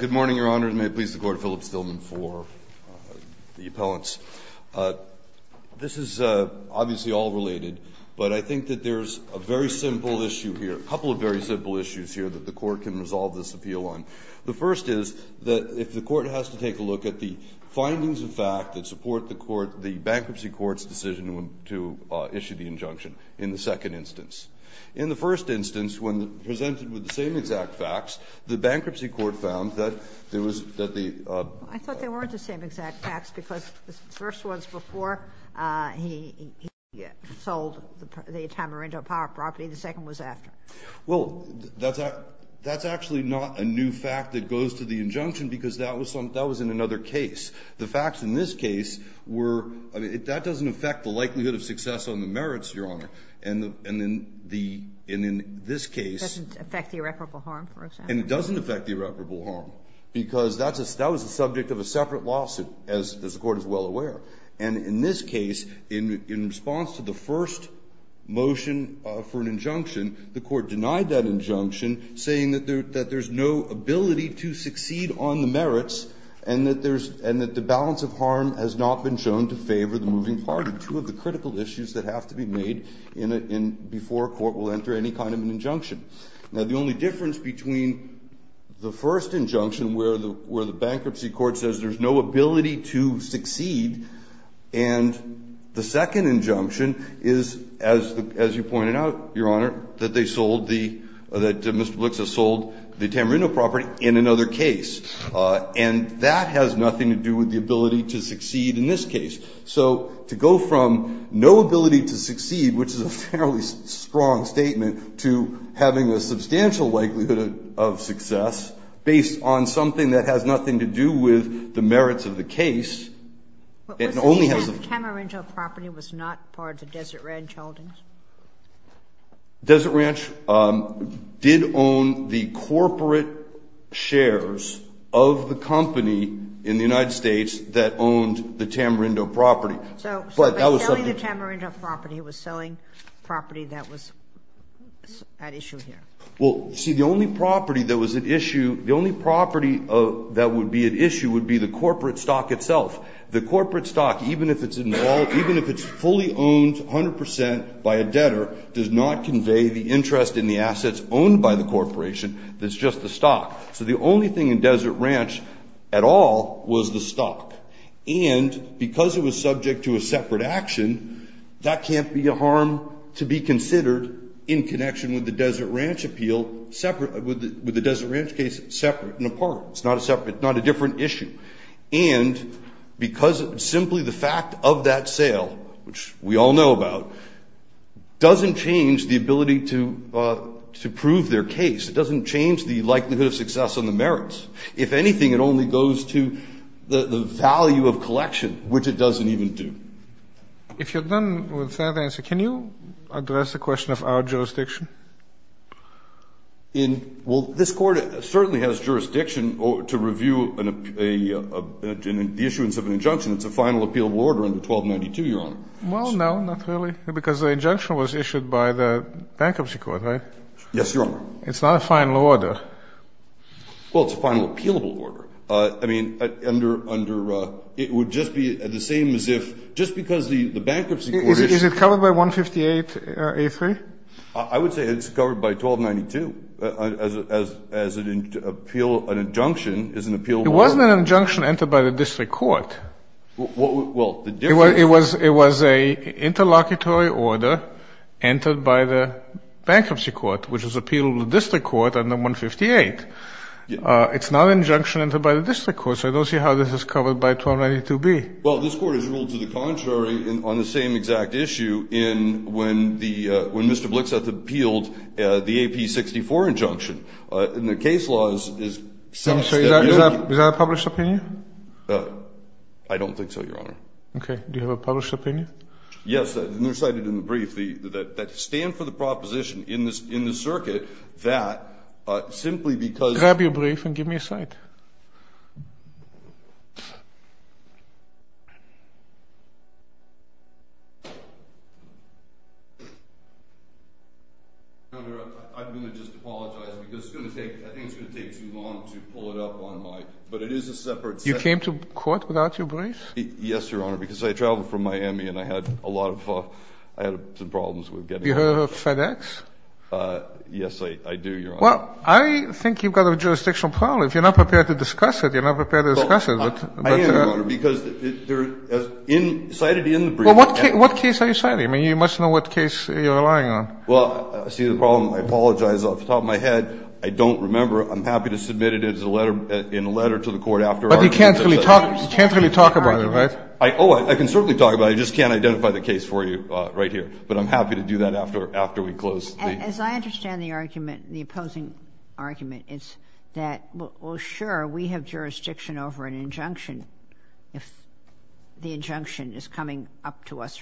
Good morning, Your Honor, and may it please the Court, Philip Stillman for the appellants. This is obviously all related, but I think that there's a very simple issue here, a couple of very simple issues here that the Court can resolve this appeal on. The first is that if the Court has to take a look at the findings of fact that support the Bankruptcy Court's decision to issue the injunction in the second instance. In the first instance, when presented with the same exact facts, the Bankruptcy Court found that there was, that the- I thought they weren't the same exact facts because the first was before he sold the Tamarindo Power property. The second was after. Well, that's actually not a new fact that goes to the injunction because that was in another case. The facts in this case were, I mean, that doesn't affect the likelihood of success on the merits, Your Honor. And in this case- It doesn't affect the irreparable harm, for example. And it doesn't affect the irreparable harm because that was the subject of a separate lawsuit, as the Court is well aware. And in this case, in response to the first motion for an injunction, the Court denied that injunction, saying that there's no ability to succeed on the merits and that the balance of harm has not been shown to favor the moving party, two of the critical issues that have to be made in, before a court will enter any kind of an injunction. Now, the only difference between the first injunction, where the Bankruptcy Court says there's no ability to succeed, and the second injunction is, as you pointed out, Your Honor, that they sold the, that Mr. Blix has sold the Tamarindo property in another case. And that has nothing to do with the ability to succeed in this case. So to go from no ability to succeed, which is a fairly strong statement, to having a substantial likelihood of success, based on something that has nothing to do with the merits of the case, it only has- But was the Tamarindo property was not part of Desert Ranch Holdings? Desert Ranch did own the corporate shares of the company in the United States that owned the Tamarindo property. So by selling the Tamarindo property, he was selling property that was at issue here. Well, see, the only property that was at issue, the only property that would be at issue would be the corporate stock itself. The corporate stock, even if it's involved, even if it's fully owned 100 percent by a debtor, does not convey the interest in the assets owned by the corporation. It's just the stock. So the only thing in Desert Ranch at all was the stock. And because it was subject to a separate action, that can't be a harm to be considered in connection with the Desert Ranch appeal, separate, with the Desert Ranch case separate and apart. It's not a separate, it's not a different issue. And because simply the fact of that sale, which we all know about, doesn't change the ability to prove their case. It doesn't change the likelihood of success on the merits. If anything, it only goes to the value of collection, which it doesn't even do. If you're done with that answer, can you address the question of our jurisdiction? Well, this Court certainly has jurisdiction to review the issuance of an injunction. It's a final appealable order under 1292, Your Honor. Well, no, not really, because the injunction was issued by the Bankruptcy Court, right? Yes, Your Honor. It's not a final order. Well, it's a final appealable order. I mean, under, it would just be the same as if, just because the Bankruptcy Court issued Is it covered by 158A3? I would say it's covered by 1292, as an appeal, an injunction is an appealable order. It wasn't an injunction entered by the District Court. Well, the difference It was a interlocutory order entered by the Bankruptcy Court, which is appealable to the District Court under 158. It's not an injunction entered by the District Court, so I don't see how this is covered by 1292B. Well, this Court has ruled to the contrary on the same exact issue when Mr. Blixath appealed the AP64 injunction. And the case law is Is that a published opinion? I don't think so, Your Honor. Okay. Do you have a published opinion? Yes, and they're cited in the brief. They stand for the proposition in the circuit that simply because Grab your brief and give me a cite. Your Honor, I'm going to just apologize because it's going to take, I think it's going to take too long to pull it up on my, but it is a separate You came to court without your brief? Yes, Your Honor, because I traveled from Miami and I had a lot of, I had some problems with getting You heard of FedEx? Yes, I do, Your Honor. Well, I think you've got a jurisdictional problem. If you're not prepared to discuss it, you're not prepared to discuss it. I am, Your Honor, because they're cited in the brief. Well, what case are you citing? I mean, you must know what case you're relying on. Well, I see the problem. I apologize off the top of my head. I don't remember. I'm happy to submit it as a letter, in a letter to the Court after argument. But you can't really talk about it, right? Oh, I can certainly talk about it. I just can't identify the case for you right here. But I'm happy to do that after we close. As I understand the argument, the opposing argument is that, well, sure, we have jurisdiction over an injunction if the injunction is coming up to us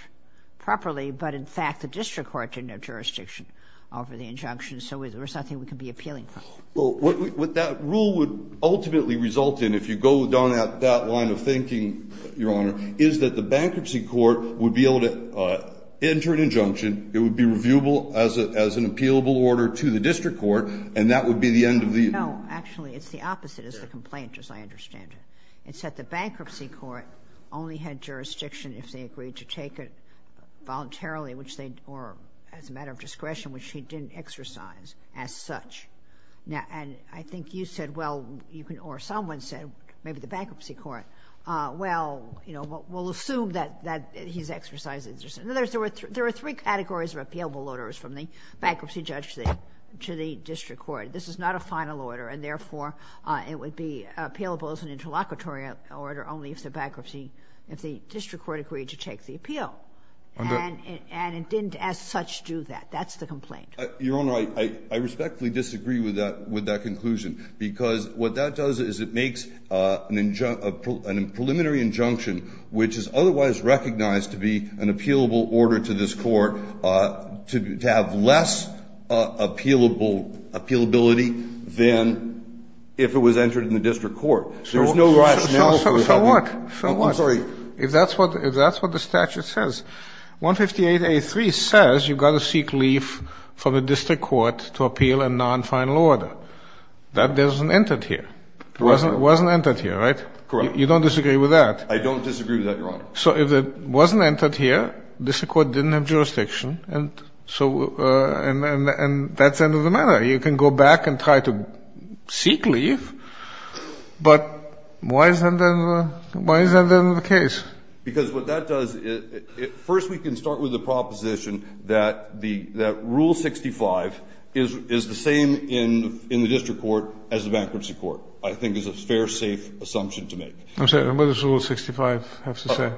properly. But, in fact, the district court didn't have jurisdiction over the injunction, so there's nothing we can be appealing for. Well, what that rule would ultimately result in, if you go down that line of thinking, Your Honor, is that the bankruptcy court would be able to enter an injunction. It would be reviewable as an appealable order to the district court, and that would be the end of the ---- No. Actually, it's the opposite, is the complaint, as I understand it. It's that the bankruptcy court only had jurisdiction if they agreed to take it voluntarily, which they, or as a matter of discretion, which he didn't exercise as such. And I think you said, well, or someone said, maybe the bankruptcy court, well, you know, we'll assume that he's exercised it. There are three categories of appealable orders from the bankruptcy judge to the district court. This is not a final order, and, therefore, it would be appealable as an interlocutory order only if the bankruptcy, if the district court agreed to take the appeal. And it didn't as such do that. That's the complaint. Your Honor, I respectfully disagree with that conclusion, because what that does is it makes an preliminary injunction, which is otherwise recognized to be an appealable order to this Court, to have less appealability than if it was entered in the district court. There's no rationale for it having ---- So what? So what? I'm sorry. If that's what the statute says, 158a3 says you've got to seek leave from the district court to appeal a nonfinal order. That doesn't enter here. It wasn't entered here, right? Correct. You don't disagree with that? I don't disagree with that, Your Honor. So if it wasn't entered here, the district court didn't have jurisdiction, and so that's the end of the matter. You can go back and try to seek leave, but why isn't that the case? Because what that does, first we can start with the proposition that Rule 65 is the same in the district court as the bankruptcy court, I think is a fair, safe assumption to make. I'm sorry, what does Rule 65 have to say?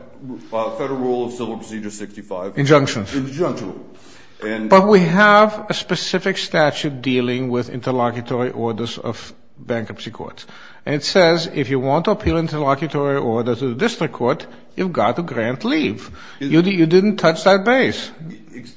Federal Rule of Civil Procedure 65. Injunction. Injunction. But we have a specific statute dealing with interlocutory orders of bankruptcy courts, and it says if you want to appeal interlocutory orders to the district court, you've got to grant leave. You didn't touch that base.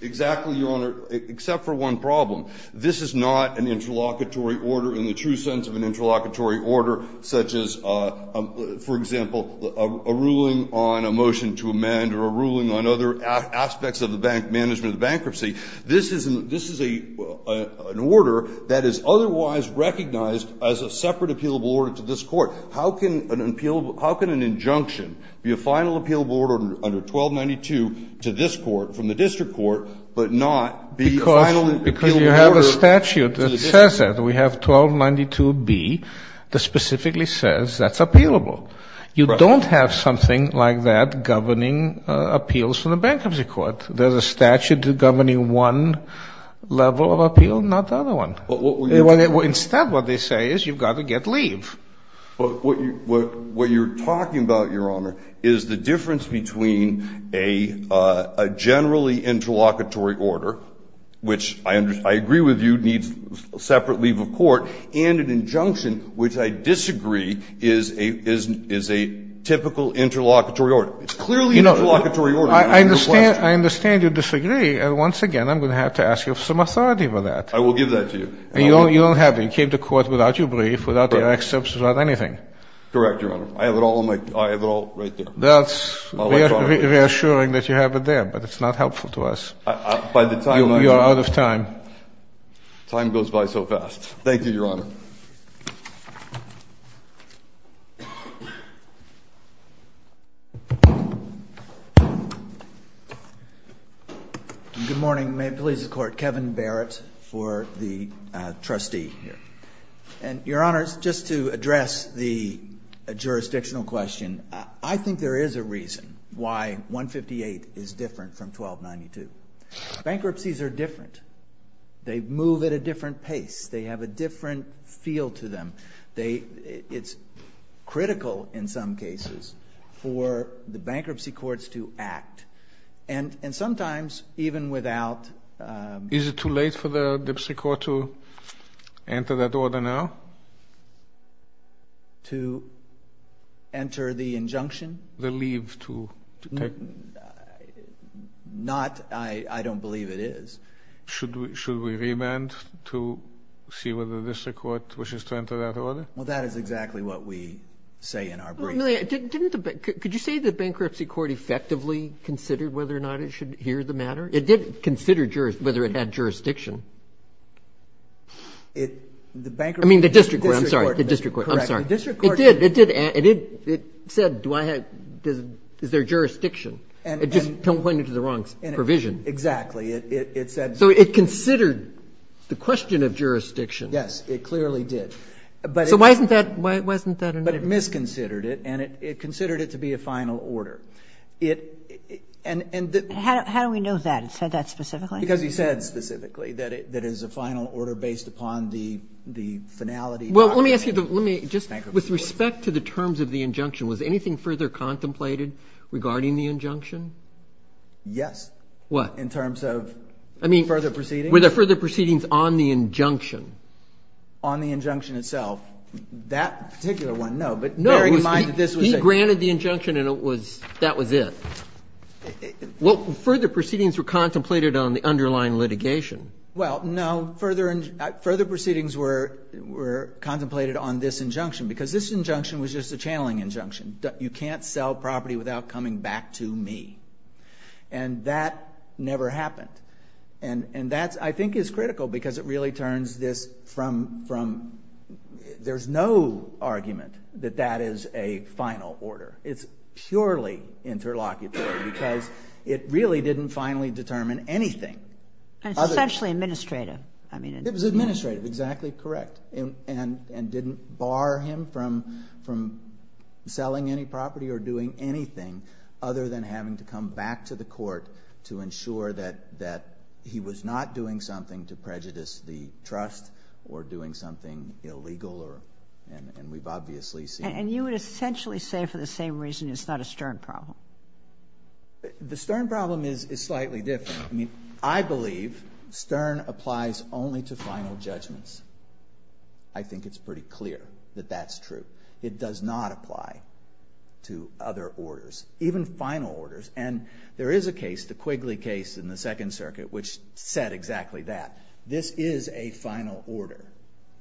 Exactly, Your Honor, except for one problem. This is not an interlocutory order in the true sense of an interlocutory order such as, for example, a ruling on a motion to amend or a ruling on other aspects of the bank management of bankruptcy. This is an order that is otherwise recognized as a separate appealable order to this court. How can an appealable order, how can an injunction be a final appealable order under 1292 to this court, from the district court, but not be a final appealable order to the district court? Because you have a statute that says that. We have 1292B that specifically says that's appealable. You don't have something like that governing appeals from the bankruptcy court. There's a statute governing one level of appeal, not the other one. Instead, what they say is you've got to get leave. But what you're talking about, Your Honor, is the difference between a generally interlocutory order, which I agree with you needs separate leave of court, and an injunction which I disagree is a typical interlocutory order. It's clearly an interlocutory order. I understand you disagree, and once again, I'm going to have to ask you for some authority over that. I will give that to you. You don't have it. You came to court without your brief, without the excerpts, without anything. Correct, Your Honor. I have it all right there. That's reassuring that you have it there, but it's not helpful to us. You're out of time. Time goes by so fast. Thank you, Your Honor. Good morning. May it please the Court. Kevin Barrett for the trustee here. Your Honor, just to address the jurisdictional question, I think there is a reason why 158 is different from 1292. Bankruptcies are different. They move at a different pace. They have a different feel to them. It's critical in some cases for the bankruptcy courts to act, and sometimes even without Is it too late for the bankruptcy court to enter that order now? To enter the injunction? The leave to take? Not, I don't believe it is. Should we remand to see whether the district court wishes to enter that order? Well, that is exactly what we say in our brief. Could you say the bankruptcy court effectively considered whether or not it should hear the matter? It did consider whether it had jurisdiction. I mean, the district court, I'm sorry. The district court, I'm sorry. It did. It said, is there jurisdiction? It just pointed to the wrong provision. Exactly. It said so. So it considered the question of jurisdiction. Yes, it clearly did. So why isn't that a no? But it misconsidered it, and it considered it to be a final order. How do we know that? It said that specifically? Because he said specifically that it is a final order based upon the finality. Well, let me ask you, with respect to the terms of the injunction, was anything further contemplated regarding the injunction? Yes. What? In terms of further proceedings. I mean, were there further proceedings on the injunction? On the injunction itself. That particular one, no. No. But bearing in mind that this was a He granted the injunction, and that was it. Further proceedings were contemplated on the underlying litigation. Well, no. Further proceedings were contemplated on this injunction, because this injunction was just a channeling injunction. You can't sell property without coming back to me. And that never happened. And that, I think, is critical, because it really turns this from There's no argument that that is a final order. It's purely interlocutory, because it really didn't finally determine anything. Especially administrative. It was administrative. Exactly correct. And didn't bar him from selling any property or doing anything other than having to come back to the court to ensure that he was not doing something to prejudice the trust or doing something illegal. And we've obviously seen And you would essentially say, for the same reason, it's not a Stern problem. The Stern problem is slightly different. I believe Stern applies only to final judgments. I think it's pretty clear that that's true. It does not apply to other orders. Even final orders. And there is a case, the Quigley case in the Second Circuit, which said exactly that. This is a final order,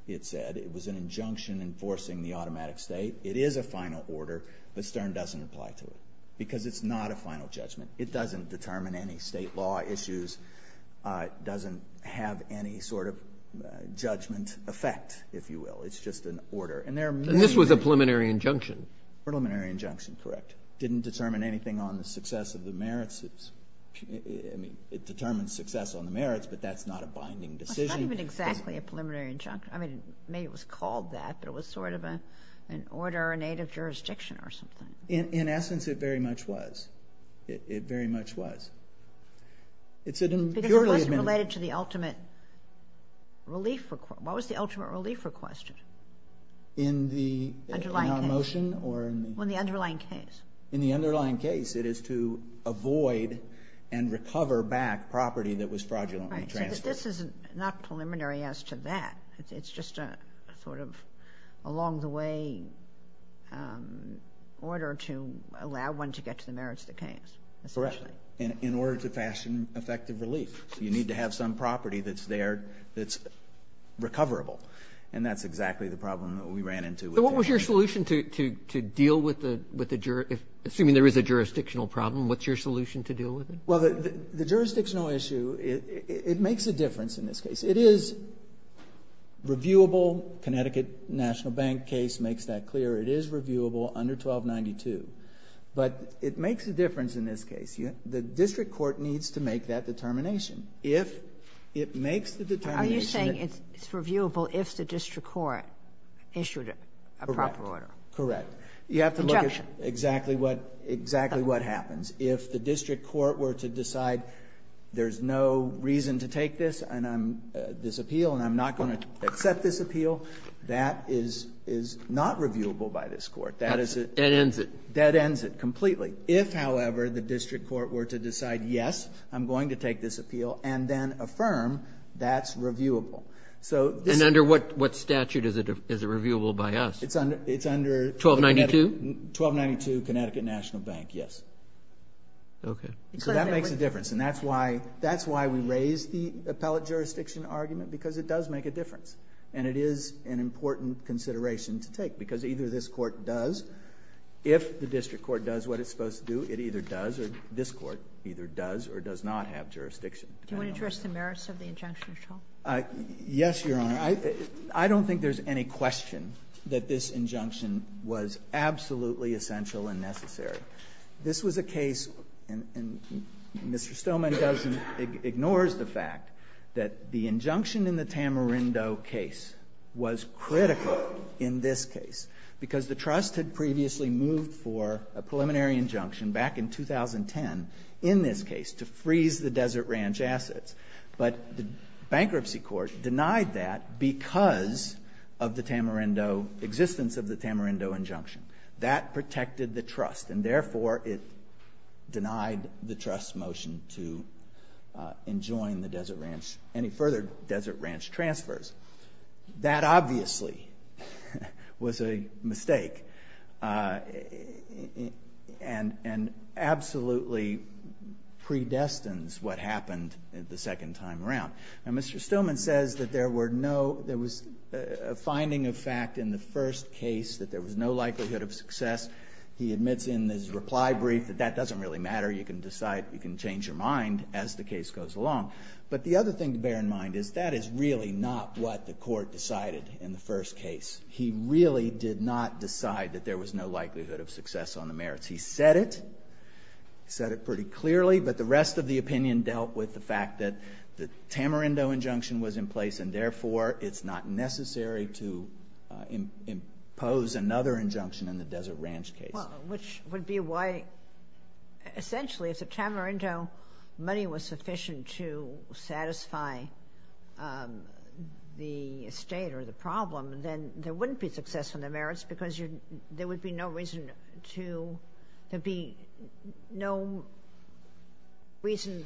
it said. It was an injunction enforcing the automatic state. It is a final order, but Stern doesn't apply to it. Because it's not a final judgment. It doesn't determine any state law issues. It doesn't have any sort of judgment effect, if you will. It's just an order. And this was a preliminary injunction. Preliminary injunction, correct. It didn't determine anything on the success of the merits. It determines success on the merits, but that's not a binding decision. It's not even exactly a preliminary injunction. Maybe it was called that, but it was sort of an order or an aid of jurisdiction or something. In essence, it very much was. It very much was. Because it wasn't related to the ultimate relief request. What was the ultimate relief request? In our motion? In the underlying case. In the underlying case, it is to avoid and recover back property that was fraudulently transferred. This is not preliminary as to that. It's just a sort of along-the-way order to allow one to get to the merits that came. Correct. In order to fashion effective relief. You need to have some property that's there that's recoverable. And that's exactly the problem that we ran into. What was your solution to deal with the jury? Assuming there is a jurisdictional problem, what's your solution to deal with it? Well, the jurisdictional issue, it makes a difference in this case. It is reviewable. Connecticut National Bank case makes that clear. It is reviewable under 1292. But it makes a difference in this case. The district court needs to make that determination. If it makes the determination... Are you saying it's reviewable if the district court issued a proper order? Correct. Conjunction. You have to look at exactly what happens. If the district court were to decide there's no reason to take this appeal and I'm not going to accept this appeal, that is not reviewable by this court. That ends it. That ends it completely. If, however, the district court were to decide, yes, I'm going to take this appeal and then affirm that's reviewable. And under what statute is it reviewable by us? It's under... 1292? 1292 Connecticut National Bank, yes. Okay. So that makes a difference. And that's why we raise the appellate jurisdiction argument because it does make a difference. And it is an important consideration to take because either this court does, if the district court does what it's supposed to do, it either does or this court either does or does not have jurisdiction. Do you want to address the merits of the injunction at all? Yes, Your Honor. I don't think there's any question that this injunction was absolutely essential and necessary. This was a case, and Mr. Stoneman ignores the fact, that the injunction in the Tamarindo case was critical in this case because the trust had previously moved for a preliminary injunction back in 2010 in this case to freeze the Desert Ranch assets. But the bankruptcy court denied that because of the Tamarindo existence, of the Tamarindo injunction. That protected the trust, and therefore it denied the trust motion to enjoin any further Desert Ranch transfers. That obviously was a mistake and absolutely predestines what happened the second time around. And Mr. Stoneman says that there was a finding of fact in the first case that there was no likelihood of success. He admits in his reply brief that that doesn't really matter. You can decide, you can change your mind as the case goes along. But the other thing to bear in mind is that is really not what the court decided in the first case. He really did not decide that there was no likelihood of success on the merits. He said it, he said it pretty clearly, but the rest of the opinion dealt with the fact that the Tamarindo injunction was in place and therefore it's not necessary to impose another injunction in the Desert Ranch case. Well, which would be why essentially if the Tamarindo money was sufficient to satisfy the estate or the problem, then there wouldn't be success on the merits because there would be no reason to, there'd be no reason,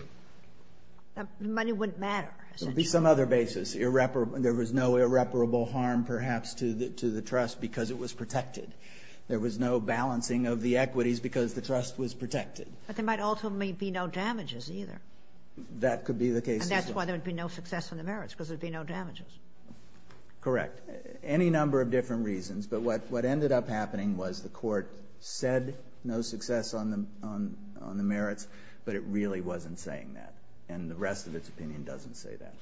money wouldn't matter. There'd be some other basis. There was no irreparable harm perhaps to the trust because it was protected. There was no balancing of the equities because the trust was protected. But there might ultimately be no damages either. That could be the case as well. And that's why there would be no success on the merits, because there'd be no damages. Correct. Any number of different reasons, but what ended up happening was the court said no success on the merits, but it really wasn't saying that. And the rest of its opinion doesn't say that.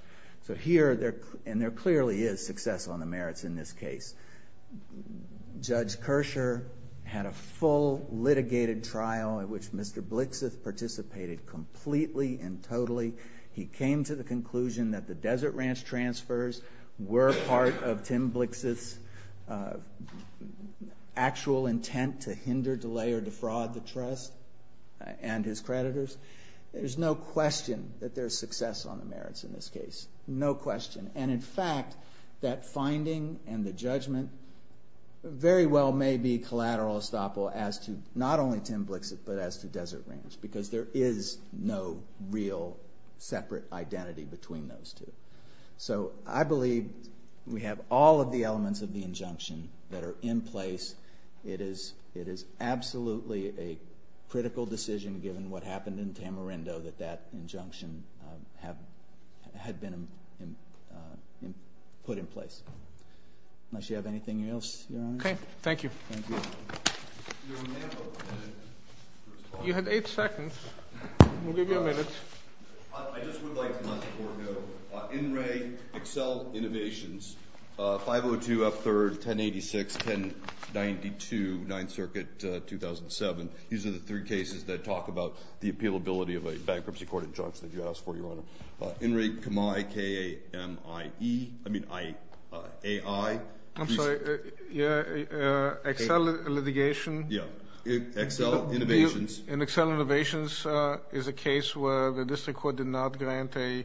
So here, and there clearly is success on the merits in this case. Judge Kershaw had a full litigated trial in which Mr. Blixith participated completely and totally. He came to the conclusion that the Desert Ranch transfers were part of Tim Blixith's actual intent to hinder, delay, or defraud the trust and his creditors. There's no question that there's success on the merits in this case. No question. And in fact, that finding and the judgment very well may be collateral estoppel as to not only Tim Blixith but as to Desert Ranch, because there is no real separate identity between those two. So I believe we have all of the elements of the injunction that are in place. It is absolutely a critical decision, given what happened in Tamarindo, that that injunction had been put in place. Unless you have anything else, Your Honor? Okay. Thank you. Thank you. You had eight seconds. We'll give you a minute. I just would like to let the court know, In Re, Excel Innovations, 502 F3rd, 1086, 1092, 9th Circuit, 2007. These are the three cases that talk about the appealability of a bankruptcy court injunction. If you ask for it, Your Honor. In Re, Kami, K-A-M-I-E. I mean, A-I. I'm sorry. Excel litigation. Yeah. Excel Innovations. In Excel Innovations is a case where the district court did not grant a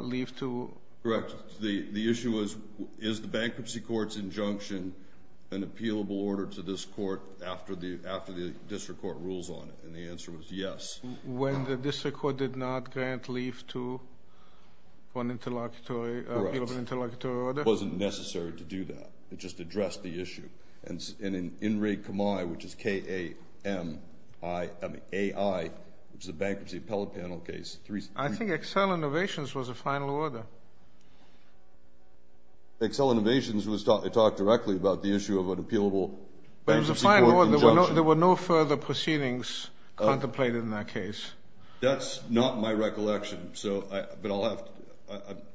leave to... Correct. The issue was, is the bankruptcy court's injunction an appealable order to this court after the district court rules on it? And the answer was yes. When the district court did not grant leave to an appealable interlocutory order? Correct. It just addressed the issue. And in Re, Kami, which is K-A-M-I... I mean, A-I, which is a bankruptcy appellate panel case... I think Excel Innovations was a final order. Excel Innovations talked directly about the issue of an appealable bankruptcy court injunction. But it was a final order. There were no further proceedings contemplated in that case. That's not my recollection. But I'll have to...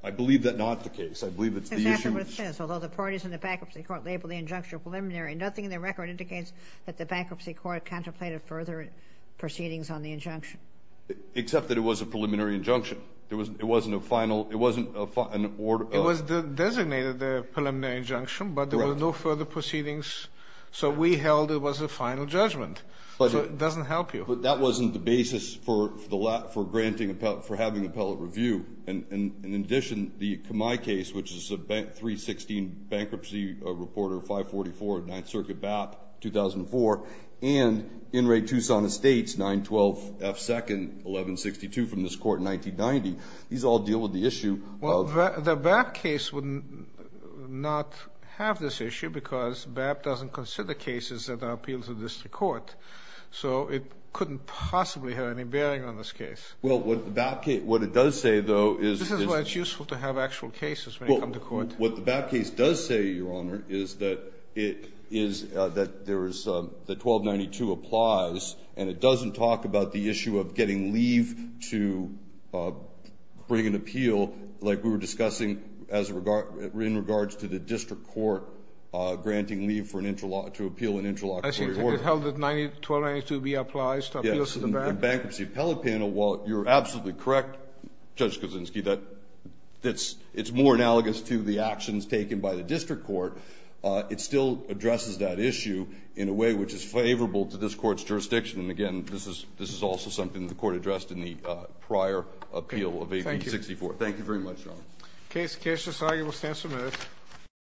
I believe that's not the case. I believe it's the issue...... although the parties in the bankruptcy court labeled the injunction preliminary. Nothing in the record indicates that the bankruptcy court contemplated further proceedings on the injunction. Except that it was a preliminary injunction. It wasn't a final... it wasn't a... It was designated a preliminary injunction, but there were no further proceedings. So, we held it was a final judgment. So, it doesn't help you. But that wasn't the basis for granting... for having appellate review. And, in addition, the Kamai case, which is a 316 bankruptcy reporter, 544, 9th Circuit BAP, 2004... And, Enright, Tucson Estates, 912F2nd, 1162, from this court in 1990. These all deal with the issue of... Well, the BAP case would not have this issue because BAP doesn't consider cases that are appealed to district court. So, it couldn't possibly have any bearing on this case. Well, what the BAP case... what it does say, though, is... This is why it's useful to have actual cases when you come to court. Well, what the BAP case does say, Your Honor, is that it is... that there is... that 1292 applies. And, it doesn't talk about the issue of getting leave to bring an appeal, like we were discussing as a regard... in regards to the district court granting leave for an interlock... to appeal an interlock... I see. It held that 1292B applies to appeals to the BAP. And, the Bankruptcy Appellate Panel, while you're absolutely correct, Judge Kuczynski, that it's more analogous to the actions taken by the district court, it still addresses that issue in a way which is favorable to this court's jurisdiction. And, again, this is also something the court addressed in the prior appeal of 1864. Thank you. Thank you very much, Your Honor. Okay, Mr. Kuczynski, we'll stand for a minute.